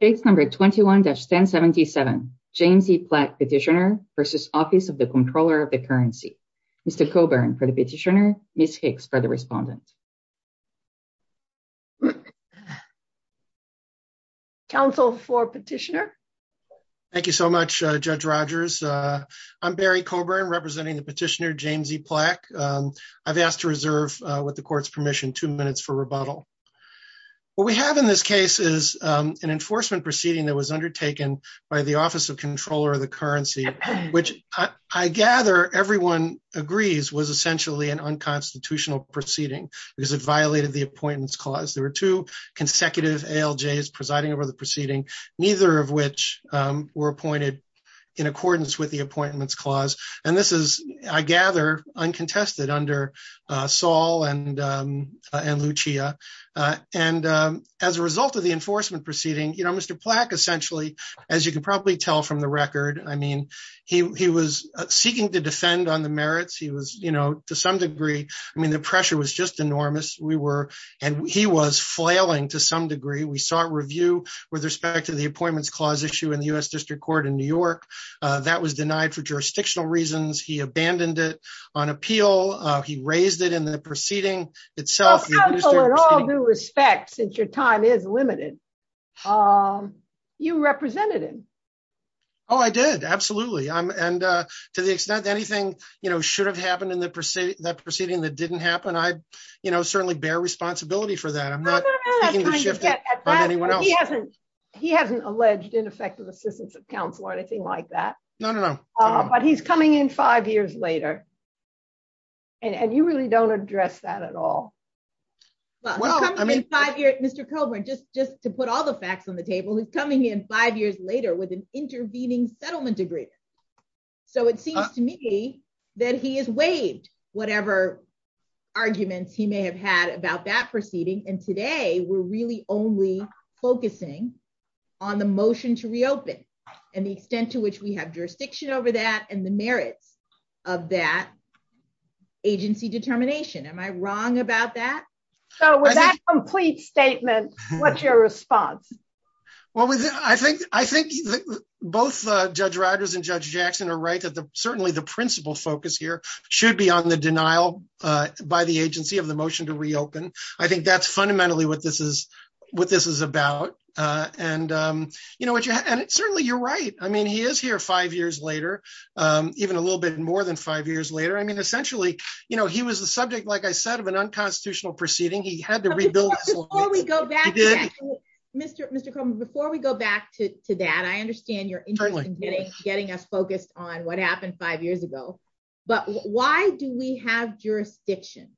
Page 21-1077 James E. Plack Petitioner v. Office of the Comptroller of the Currency Mr. Coburn for the petitioner Ms. Hicks for the respondent Council for petitioner Thank you so much Judge Rogers. I'm Barry Coburn representing the petitioner James E. Plack. I've asked to reserve with the court's an enforcement proceeding that was undertaken by the Office of the Comptroller of the Currency which I gather everyone agrees was essentially an unconstitutional proceeding because it violated the Appointments Clause. There were two consecutive ALJs presiding over the proceeding, neither of which were appointed in accordance with the Appointments Clause and this is I Mr. Plack essentially, as you can probably tell from the record, he was seeking to defend on the merits. To some degree, the pressure was just enormous and he was flailing to some degree. We saw a review with respect to the Appointments Clause issue in the U.S. District Court in New York that was denied for jurisdictional reasons. He abandoned it on appeal. He raised it in the limited. You represented him. Oh, I did. Absolutely. And to the extent anything should have happened in that proceeding that didn't happen, I certainly bear responsibility for that. I'm not seeking to shift it on anyone else. He hasn't alleged ineffective assistance of counsel or anything like that. No, no, no. But he's coming in five years later and you really don't address that at all. Well, I mean, five years, Mr. Coburn, just to put all the facts on the table, he's coming in five years later with an intervening settlement agreement. So it seems to me that he has waived whatever arguments he may have had about that proceeding. And today we're really only focusing on the motion to reopen and the extent to which we have jurisdiction over that and the merits of that agency determination. Am I wrong about that? So with that complete statement, what's your response? Well, I think both Judge Rogers and Judge Jackson are right that certainly the principal focus here should be on the denial by the agency of the motion to reopen. I think that's fundamentally what this is about. And certainly you're right. I mean, he is here five years later, even a little bit more than five years later. I mean, essentially, he was the subject, like I said, of an unconstitutional proceeding. He had to rebuild. Before we go back to that, Mr. Coburn, before we go back to that, I understand your interest in getting us focused on what happened five years ago. But why do we have jurisdiction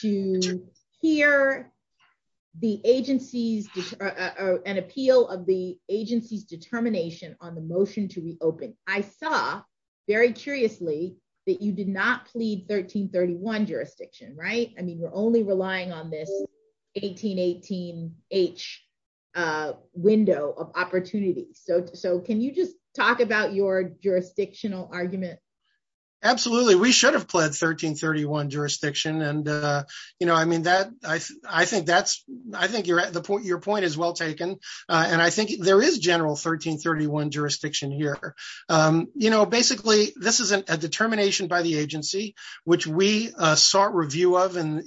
to hear an appeal of the agency's determination on the motion to reopen? I saw, very curiously, that you did not plead 1331 jurisdiction, right? I mean, you're only relying on this 1818-H window of opportunity. So can you just talk about your jurisdictional argument? Absolutely. We should have pled 1331 jurisdiction. I think your point is well taken. And I think there is general 1331 jurisdiction here. Basically, this is a determination by the agency, which we sought review of in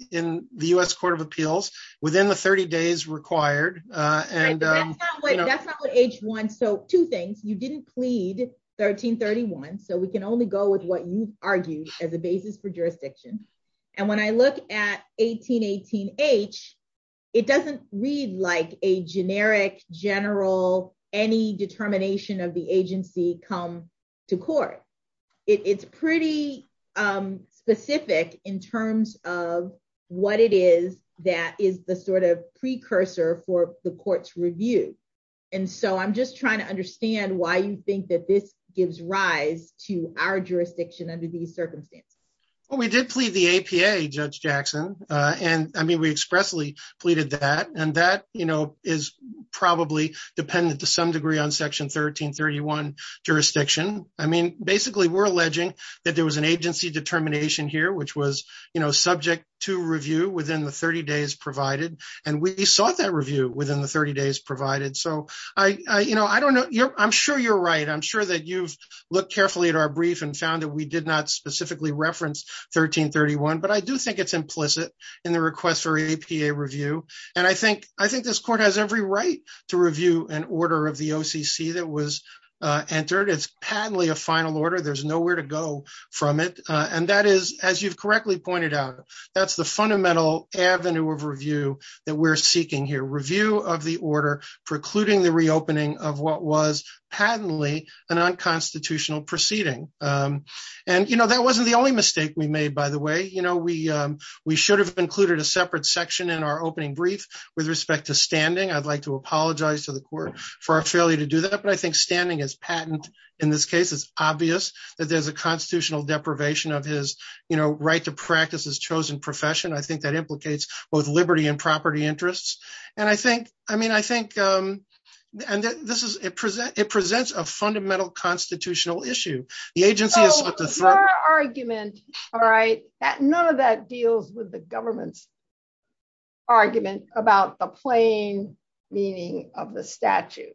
the U.S. Court of Appeals within the So we can only go with what you've argued as a basis for jurisdiction. And when I look at 1818-H, it doesn't read like a generic, general, any determination of the agency come to court. It's pretty specific in terms of what it is that is the sort of precursor for the court's review. And so I'm just trying to understand why you think that this gives rise to our jurisdiction under these circumstances. Well, we did plead the APA, Judge Jackson. And I mean, we expressly pleaded that. And that, you know, is probably dependent to some degree on section 1331 jurisdiction. I mean, basically, we're alleging that there was an agency determination here, which was, you know, subject to review within the 30 days provided. And we sought that review within the 30 days provided. So I don't know. I'm sure you're right. I'm sure that you've looked carefully at our brief and found that we did not specifically reference 1331. But I do think it's implicit in the request for APA review. And I think this court has every right to review an order of the OCC that was entered. It's patently a final order. There's nowhere to go from it. And that is, as you've correctly pointed out, that's the fundamental avenue of review that we're seeking here. Review of the order precluding the reopening of what was patently an unconstitutional proceeding. And, you know, that wasn't the only mistake we made, by the way. You know, we should have included a separate section in our opening brief with respect to standing. I'd like to apologize to the court for our failure to do that. But I think standing is patent. In this case, it's obvious that there's a constitutional deprivation of his, you know, right to practice his chosen profession. I think that implicates both liberty and property interests. And I think, I mean, I think, and this is a present, it presents a fundamental constitutional issue. The agency is argument, all right, that none of that deals with the government's argument about the plain meaning of the statute.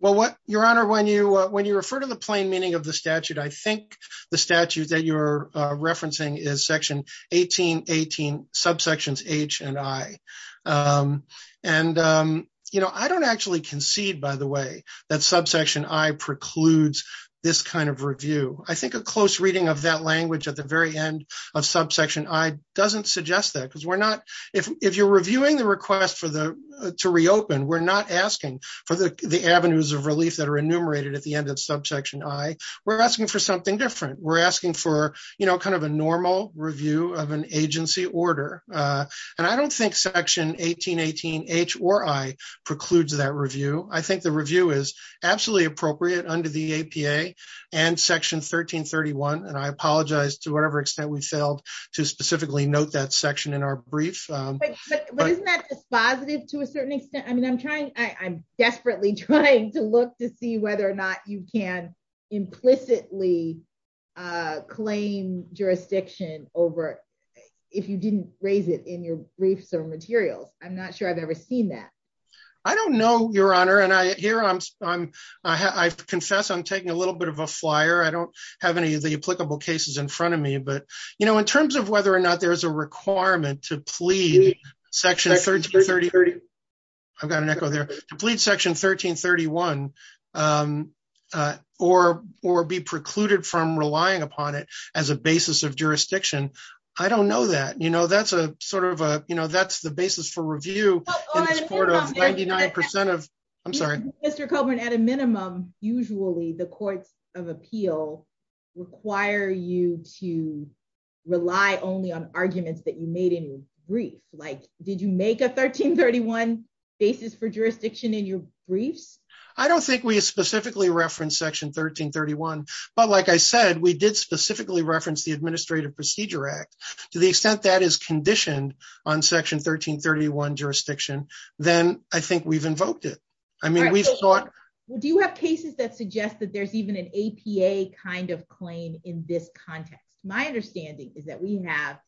Well, what Your Honor, when you when you refer to the plain meaning of the statute, I think the statute that you're referencing is section 1818 subsections H and I. And, you know, I don't actually concede, by the way, that subsection I precludes this kind of review. I think a close reading of that language at the very end of subsection I doesn't suggest that because we're not, if you're reviewing the request for the to reopen, we're not asking for the avenues of relief that are enumerated at the end of subsection I, we're asking for something different. We're asking for, you know, kind of a normal review of an agency order. And I don't think section 1818 H or I precludes that review. I think the review is absolutely appropriate under the APA and section 1331. And I apologize to whatever extent we failed to specifically note that section in our brief. But isn't that dispositive to a certain extent? I mean, I'm desperately trying to look to see whether or not you can implicitly claim jurisdiction over if you didn't raise it in your briefs or materials. I'm not sure I've ever seen that. I don't know, Your Honor. And I hear I'm, I'm, I confess, I'm taking a little bit of a flyer. I don't have any of the applicable cases in front of me. But, you know, in terms of whether or to plead section 1330. I've got an echo there to plead section 1331. Or, or be precluded from relying upon it as a basis of jurisdiction. I don't know that, you know, that's a sort of a, you know, that's the basis for review. 99% of I'm sorry, Mr. Coleman, at a minimum, usually the courts of appeal, require you to rely only on arguments that you made in brief, like, did you make a 1331 basis for jurisdiction in your briefs? I don't think we specifically reference section 1331. But like I said, we did specifically reference the Administrative Procedure Act, to the extent that is conditioned on section 1331 jurisdiction, then I think we've invoked it. I mean, we've thought, well, do you have cases that suggest that there's even an APA kind of claim in this context, my understanding is that we have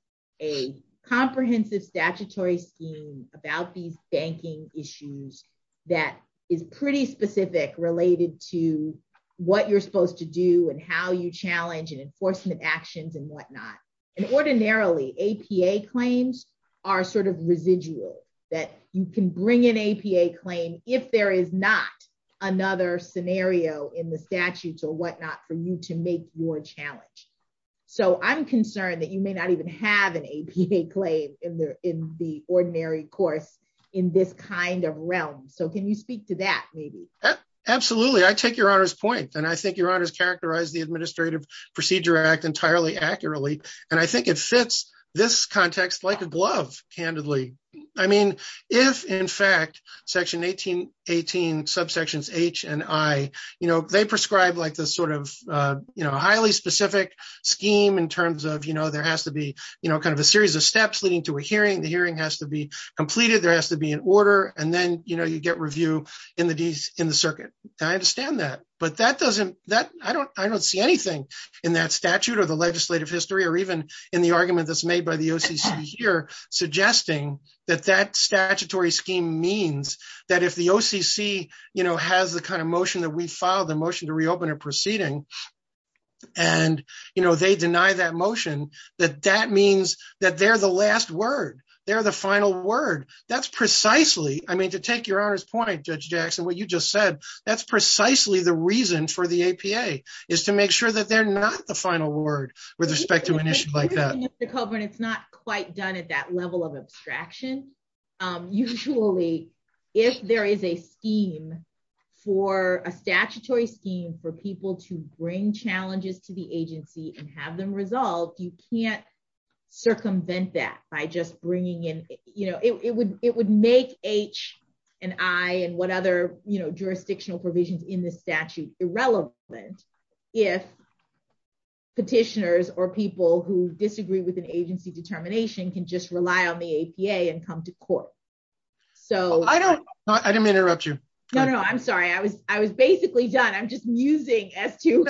a comprehensive statutory scheme about these banking issues, that is pretty specific related to what you're supposed to do and how you challenge and enforcement actions and whatnot. And ordinarily, APA claims are sort of residual, that you can bring in APA claim if there is not another scenario in the statutes or whatnot for you to make your challenge. So I'm concerned that you may not even have an APA claim in the in the ordinary course in this kind of realm. So can you speak to that, maybe? Absolutely, I take Your Honor's point. And I think Your Honor's characterized the Administrative Procedure Act entirely accurately. And I think it fits this context like a glove, candidly. I mean, if in fact, section 1818, subsections H and I, you know, they prescribe like this sort of, you know, highly specific scheme in terms of, you know, there has to be, you know, kind of a series of steps leading to a hearing, the hearing has to be completed, there has to be an order, and then you know, you get review in the in the circuit. I understand that. But that doesn't that I don't I don't see anything in that statute or the legislative history, or even in the argument that's made by the OCC here, suggesting that that statutory scheme means that if the OCC, you know, has the kind of motion that we filed the motion to reopen a proceeding. And, you know, they deny that motion, that that means that they're the last word. They're the final word. That's precisely I mean, to take Your Honor's point, Judge Jackson, what you just said, that's precisely the reason for the APA is to make sure that they're not the final word with respect to an issue like that. Mr. Coburn, it's not quite done at that level of abstraction. Usually, if there is a scheme for a statutory scheme for people to bring challenges to the agency and have them resolved, you can't circumvent that by just bringing in, you know, it would it would make H and I and what other, you know, jurisdictional provisions in the statute irrelevant. If petitioners or people who disagree with an agency determination can just rely on the APA and come to court. So I don't I didn't interrupt you. No, no, I'm sorry. I was I was basically done. I'm just musing as to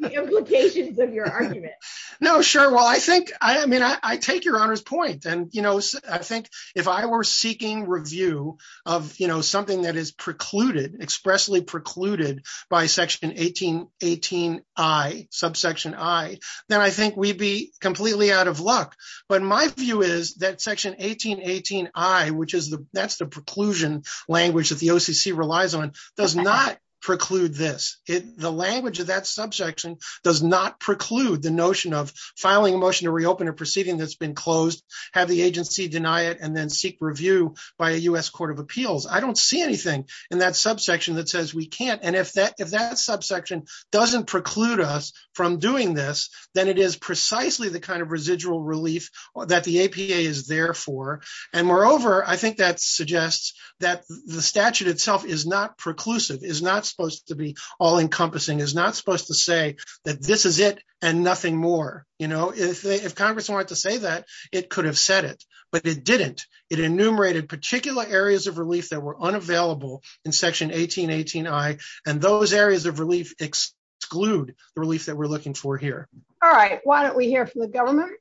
the implications of your argument. No, sure. Well, I think I mean, I take Your Honor's point. And, you know, I think if I were seeking review of, you know, something that is precluded, expressly precluded by Section 1818 I subsection I, then I think we'd be completely out of luck. But my view is that Section 1818 I, which is the that's the preclusion language that the OCC relies on, does not preclude this. The language of that subsection does not preclude the notion of filing a motion to reopen a proceeding that's been closed, have the agency deny it and then seek review by a U.S. Court of Appeals. I don't see anything in that subsection that says we can't. And if that if that subsection doesn't preclude us from doing this, then it is precisely the kind of residual relief that the APA is there for. And moreover, I think that suggests that the statute itself is not preclusive, is not supposed to be all encompassing, is not supposed to say that this is it and nothing more. You know, if Congress wanted to say that, it could have said it, but it didn't. It enumerated particular areas of relief that were unavailable in Section 1818 I. And those areas of relief exclude the relief we're looking for here. All right. Why don't we hear from the government?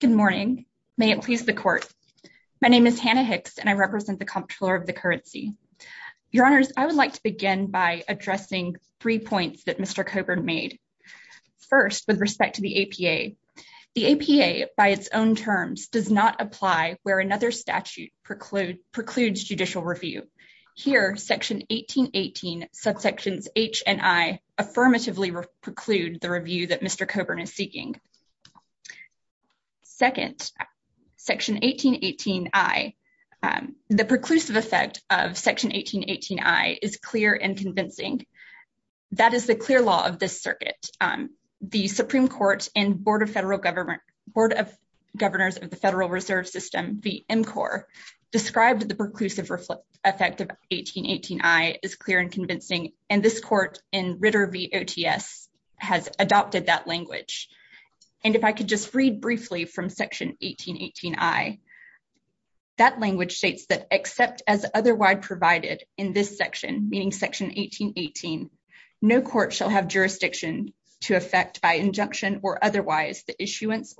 Good morning. May it please the court. My name is Hannah Hicks and I represent the Comptroller of the Currency. Your Honors, I would like to begin by addressing three points that Mr. Coburn made. First, with respect to the APA, the APA by its own terms does not apply where another statute precludes judicial review. Here, Section 1818 subsections H and I affirmatively preclude the review that Mr. Coburn is seeking. Second, Section 1818 I, the preclusive effect of Section 1818 I is clear and convincing. That is the clear law of this circuit. The Supreme described the preclusive effect of 1818 I is clear and convincing. And this court in Ritter v. OTS has adopted that language. And if I could just read briefly from Section 1818 I, that language states that except as otherwise provided in this section, meaning Section 1818, no court shall have jurisdiction to affect by injunction or otherwise the issuance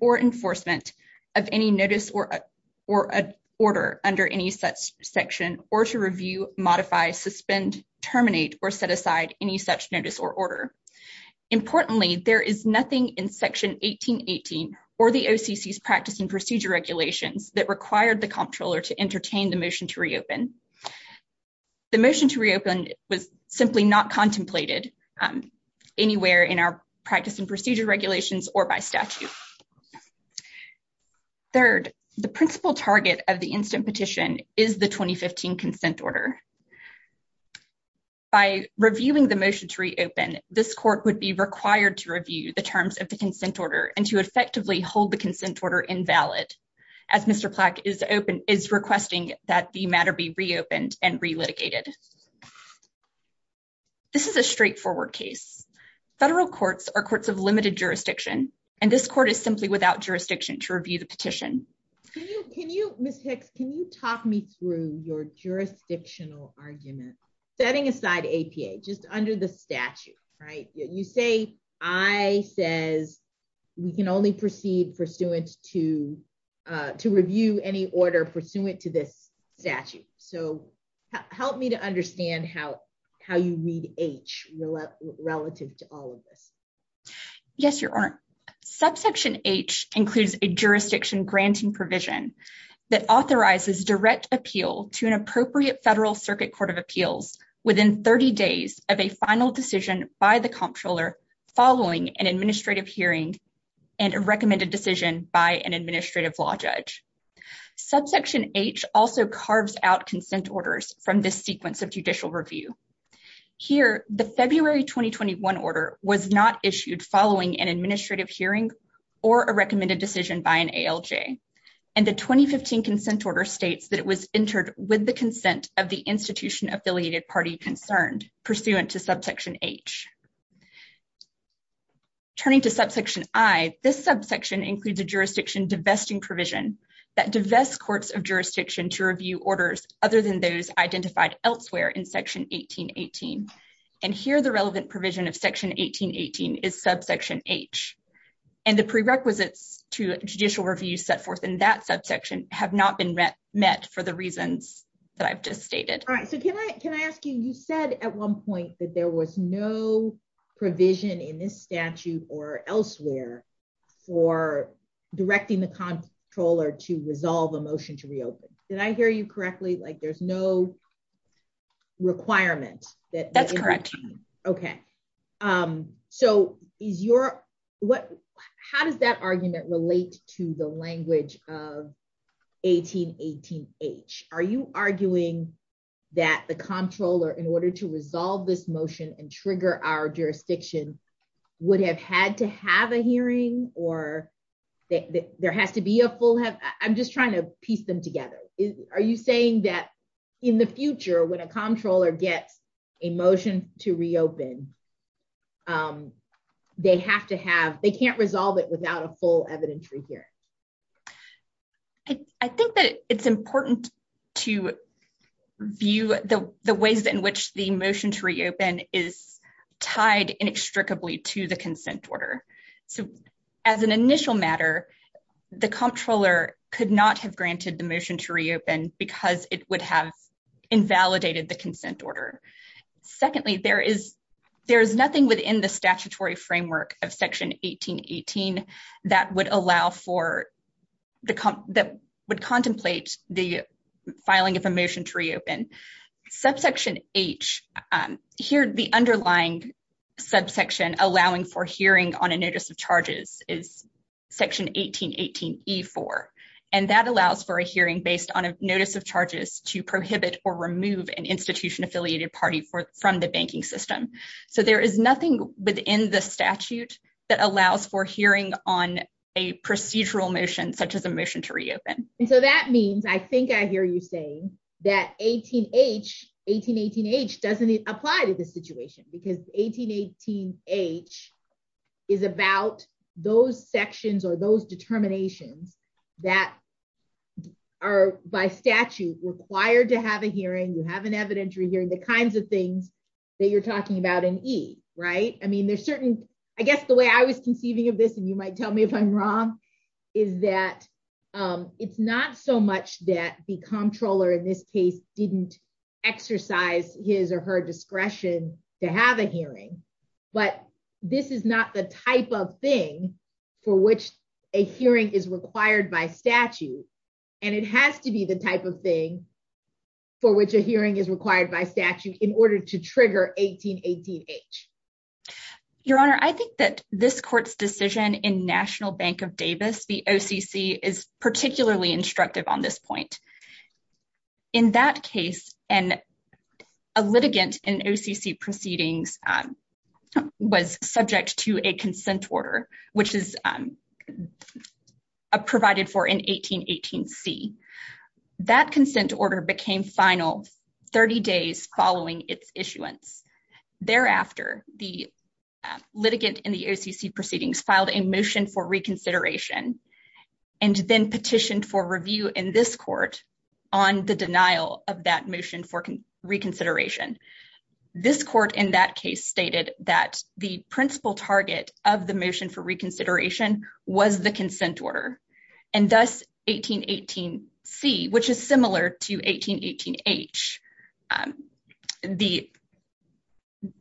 or enforcement of any notice or order under any such section or to review, modify, suspend, terminate, or set aside any such notice or order. Importantly, there is nothing in Section 1818 or the OCC's practice and procedure regulations that required the Comptroller to entertain the motion to reopen. The motion to reopen was simply not contemplated anywhere in our practice and procedure regulations or by statute. Third, the principal target of the instant petition is the 2015 consent order. By reviewing the motion to reopen, this court would be required to review the terms of the consent order and to effectively hold the consent order invalid as Mr. Plack is requesting that the matter be reopened and relitigated. This is a straightforward case. Federal courts are courts of limited jurisdiction and this court is simply without jurisdiction to review the petition. Can you, Ms. Hicks, can you talk me through your jurisdictional argument? Setting aside APA, just under the statute, right? You say I says we can only proceed pursuant to review any order pursuant to this statute. So help me to understand how you read H relative to all of this. Yes, Your Honor. Subsection H includes a jurisdiction granting provision that authorizes direct appeal to an appropriate Federal Circuit Court of Appeals within 30 days of a final decision by the Comptroller following an administrative hearing and a recommended decision by an administrative law judge. Subsection H also carves out consent orders from this sequence of judicial review. Here, the February 2021 order was not issued following an administrative hearing or a recommended decision by an ALJ and the 2015 consent order states that it was entered with the consent of the institution affiliated party concerned pursuant to subsection H. Turning to subsection I, this subsection includes a jurisdiction divesting provision that divests courts of jurisdiction to review orders other than those identified elsewhere in section 1818 and here the relevant provision of section 1818 is subsection H and the prerequisites to judicial review set forth in that subsection have not been met for the reasons that I've just stated. All right, so can I ask you, you said at one point that there was no provision in this Comptroller to resolve a motion to reopen. Did I hear you correctly, like there's no requirement? That's correct. Okay, so is your, what, how does that argument relate to the language of 1818H? Are you arguing that the Comptroller, in order to resolve this motion and trigger our I'm just trying to piece them together. Are you saying that in the future when a Comptroller gets a motion to reopen, they have to have, they can't resolve it without a full evidentiary hearing? I think that it's important to view the ways in which the motion to reopen is tied inextricably to the consent order. So as an initial matter, the Comptroller could not have granted the motion to reopen because it would have invalidated the consent order. Secondly, there is nothing within the statutory framework of section 1818 that would allow for, that would contemplate the here, the underlying subsection allowing for hearing on a notice of charges is section 1818E4, and that allows for a hearing based on a notice of charges to prohibit or remove an institution affiliated party from the banking system. So there is nothing within the statute that allows for hearing on a procedural motion such as a motion to reopen. And so that means, I think I hear you saying that 18H, 1818H doesn't apply to this situation because 1818H is about those sections or those determinations that are by statute required to have a hearing, you have an evidentiary hearing, the kinds of things that you're talking about in E, right? I mean, there's certain, I guess the way I was conceiving of this, and you might tell me if I'm wrong, is that it's not so didn't exercise his or her discretion to have a hearing, but this is not the type of thing for which a hearing is required by statute. And it has to be the type of thing for which a hearing is required by statute in order to trigger 1818H. Your honor, I think that this court's decision in National Bank of Davis, the OCC is particularly instructive on this point. In that case, and a litigant in OCC proceedings was subject to a consent order, which is provided for in 1818C. That consent order became final 30 days following its issuance. Thereafter, the litigant in the OCC proceedings filed a motion for reconsideration and then petitioned for review in this court on the denial of that motion for reconsideration. This court in that case stated that the principal target of the motion for reconsideration was the consent order, and thus 1818C, which is similar to 1818H. And the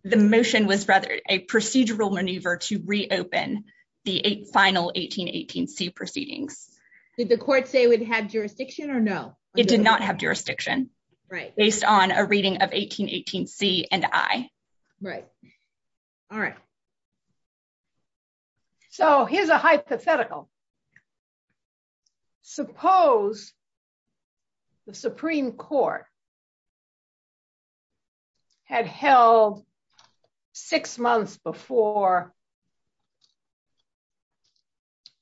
motion was rather a procedural maneuver to reopen the final 1818C proceedings. Did the court say it would have jurisdiction or no? It did not have jurisdiction based on a reading of 1818C and I. Right. All right. Okay. So here's a hypothetical. Suppose the Supreme Court had held six months before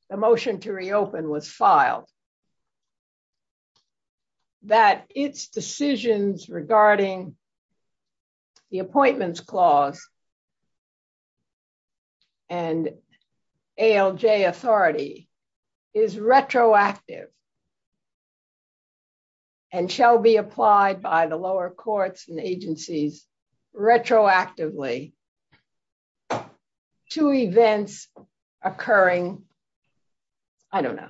the motion to reopen was filed, that its decisions regarding the Appointments Clause and ALJ authority is retroactive and shall be applied by the lower courts and agencies retroactively to events occurring, I don't know,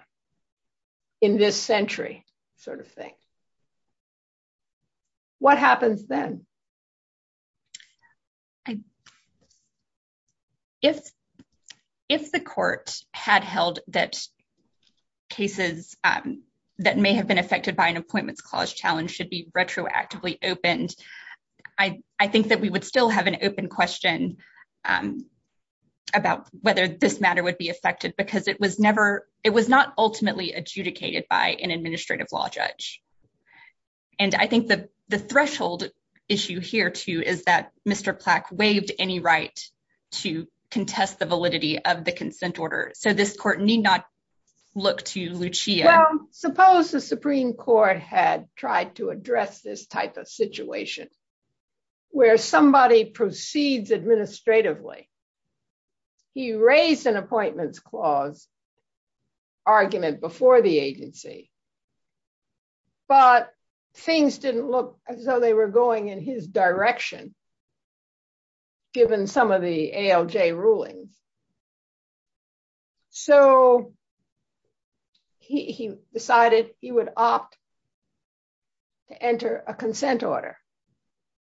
in this century sort of thing. What happens then? If the court had held that cases that may have been affected by an Appointments Clause challenge should be retroactively opened, I think that we would still have an open question about whether this matter would be affected because it was not ultimately adjudicated by an administrative law judge. And I think the threshold issue here, too, is that Mr. Plack waived any right to contest the validity of the consent order. So this court need not look to Lucia. Well, suppose the Supreme Court had tried to address this type of situation where somebody proceeds administratively. He raised an Appointments Clause argument before the agency, but things didn't look as though they were going in his direction given some of the ALJ rulings. So he decided he would opt to enter a consent order.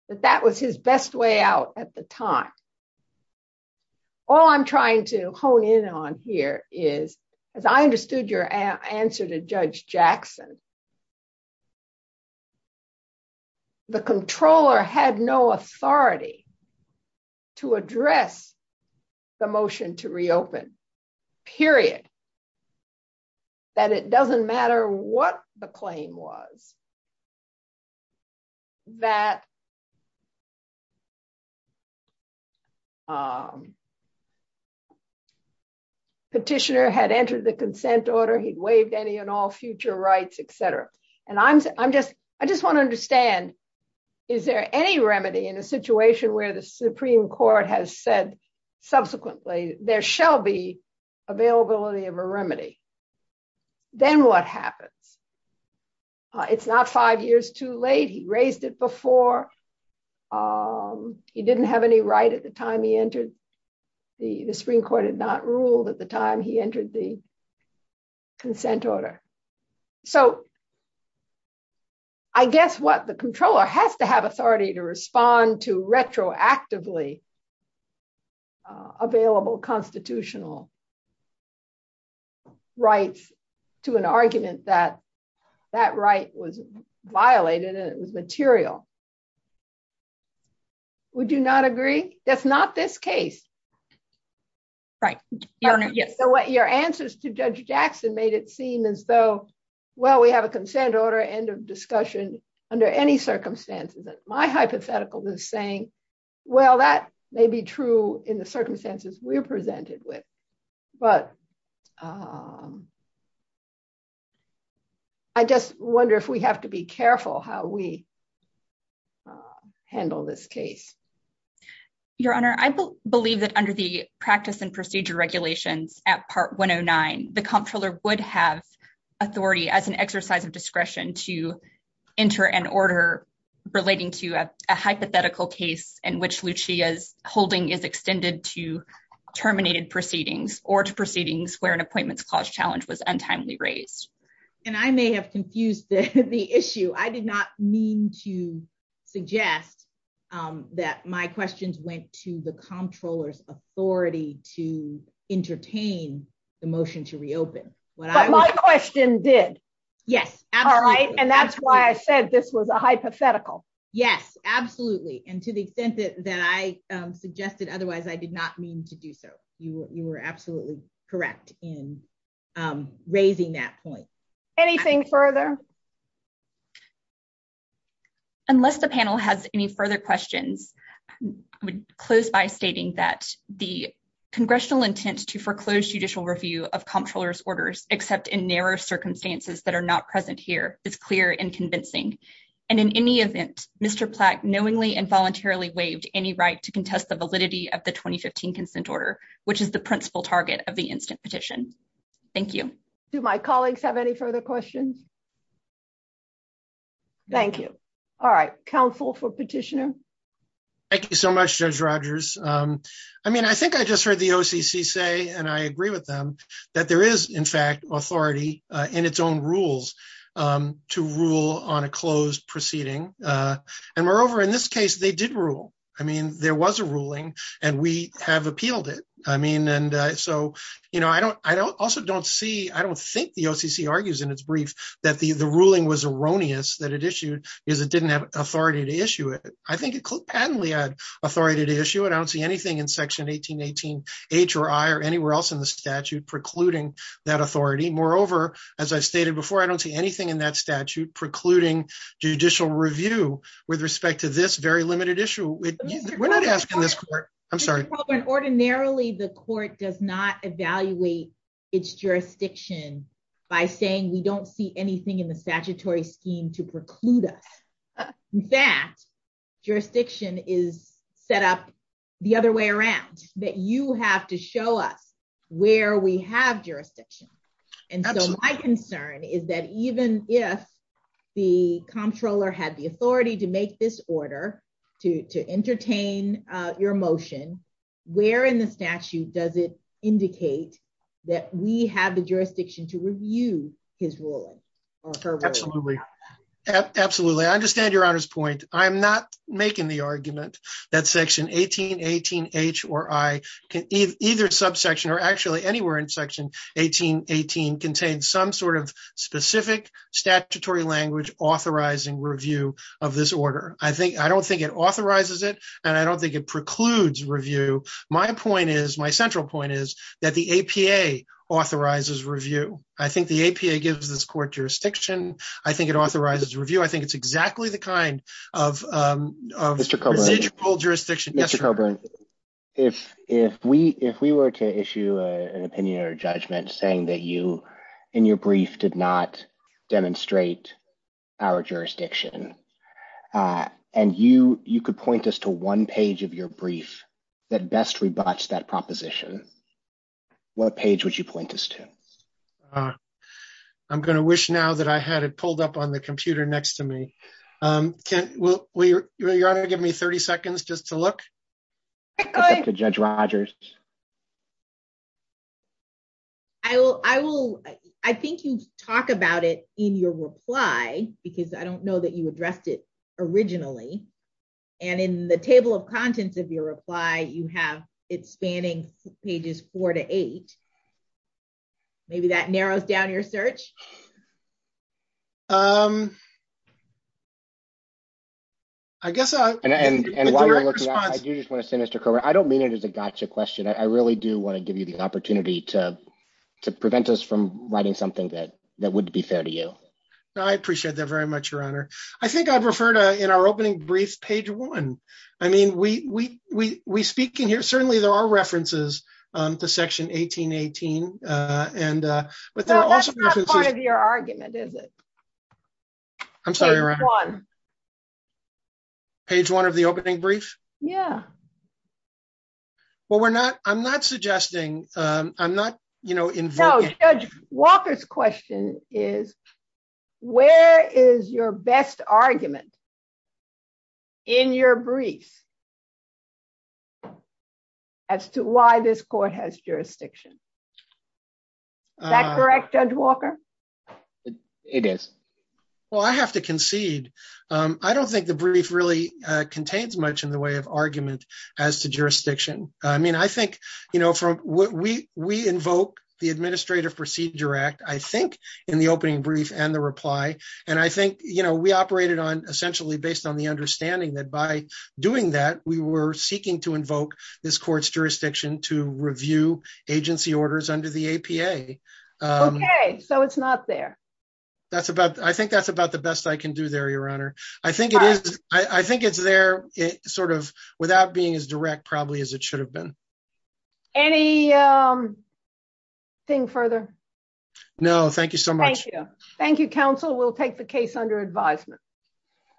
But that was his best way out at the time. All I'm trying to hone in on here is, as I understood your answer to Judge Jackson, the controller had no authority to address the motion to reopen, period. And that it doesn't matter what the claim was, that petitioner had entered the consent order, he'd waived any and all future rights, etc. And I just want to understand, is there any remedy in a situation where the Supreme Court has said subsequently, there shall be availability of a remedy? Then what happens? It's not five years too late. He raised it before. He didn't have any right at the time he entered. The Supreme Court had not ruled at the time he entered the consent order. So I guess what the controller has to have authority to respond to available constitutional rights to an argument that that right was violated and it was material. Would you not agree? That's not this case. Right. Your answer to Judge Jackson made it seem as though, well, we have a consent order, end of discussion under any circumstances. My hypothetical is saying, well, that may be true in the circumstances we're presented with. But I just wonder if we have to be careful how we handle this case. Your Honor, I believe that under the practice and procedure regulations at Part 109, the comptroller would have authority as an exercise of discretion to enter an order relating to a hypothetical case in which Lucia's holding is extended to terminated proceedings or to proceedings where an appointments clause challenge was untimely raised. I may have confused the issue. I did not mean to suggest that my questions went to the comptroller's authority to entertain the motion to reopen. But my question did. Yes. All right. And that's why I said this was a hypothetical. Yes, absolutely. And to the extent that I suggested otherwise, I did not mean to do so. You were absolutely correct in raising that point. Anything further? Unless the panel has any further questions, I would close by stating that the congressional intent to foreclose judicial review of comptroller's orders, except in narrow circumstances that are not present here, is clear and convincing. And in any event, Mr. Platt knowingly and voluntarily waived any right to contest the validity of the 2015 consent order, which is the principal target of the instant petition. Thank you. Do my colleagues have any further questions? Thank you. All right. Counsel for petitioner. Thank you so much, Judge Rogers. I mean, I think I just heard the OCC say, and I agree with them, that there is, in fact, authority in its own rules to rule on a closed proceeding. And moreover, in this case, they did rule. I mean, there was a ruling and we have appealed it. I mean, and so, you know, I don't also don't see, I don't think the OCC argues in its brief that the ruling was erroneous that it issued because it didn't have authority to issue it. I think it could patently had authority to issue it. I don't see anything in section 1818 H or I or anywhere else in the statute precluding that authority. Moreover, as I've stated before, I don't see anything in that statute precluding judicial review with respect to this very limited issue. We're not asking this court. I'm sorry. Ordinarily, the court does not evaluate its jurisdiction by saying we don't see anything in the statutory scheme to preclude us. In fact, jurisdiction is set up the other way around, that you have to show us where we have jurisdiction. And so my concern is that even if the comptroller had the authority to make this order to entertain your motion, where in the statute does it indicate that we have the jurisdiction to review his ruling? Absolutely. Absolutely. I understand your honor's point. I'm not making the argument that section 1818 H or I can either subsection or actually anywhere in section 1818 contains some sort of specific statutory language authorizing review of this order. I think, I don't think it authorizes it and I don't think it precludes review. My point is, my central point is that the APA authorizes review. I think the APA gives this court jurisdiction. I think it authorizes review. I think it's exactly the kind of procedural jurisdiction. Mr. Coburn, if we were to issue an opinion or judgment saying that you in your brief did not demonstrate our jurisdiction and you could point us to one page of your brief that best rebutts that proposition, what page would you point us to? I'm going to wish now that I had it pulled up on the computer next to me. Your honor, give me 30 seconds just to look. Judge Rogers. I will, I think you talk about it in your reply because I don't know that you have it spanning pages four to eight. Maybe that narrows down your search. I guess, and while you're looking, I do just want to say Mr. Coburn, I don't mean it as a gotcha question. I really do want to give you the opportunity to prevent us from writing something that would be fair to you. I appreciate that very much, your honor. I think I'd refer to our opening brief page one. I mean, we speak in here, certainly there are references to section 1818. That's not part of your argument, is it? I'm sorry, your honor. Page one. Page one of the opening brief? Yeah. Well, I'm not suggesting, I'm not invoking- No, Judge Walker's question is, where is your best argument in your brief as to why this court has jurisdiction? Is that correct, Judge Walker? It is. Well, I have to concede. I don't think the brief really contains much in the way of argument as to jurisdiction. I mean, I think from what we invoke, the Administrative Procedure Act, I think in the opening brief and the reply, and I think we operated on essentially based on the understanding that by doing that, we were seeking to invoke this court's jurisdiction to review agency orders under the APA. Okay. So it's not there. I think that's about the best I can do there, your honor. I think it is. I think it's there sort of without being as direct probably as it should have been. Any thing further? No, thank you so much. Thank you. Thank you, counsel. We'll take the case under advisement.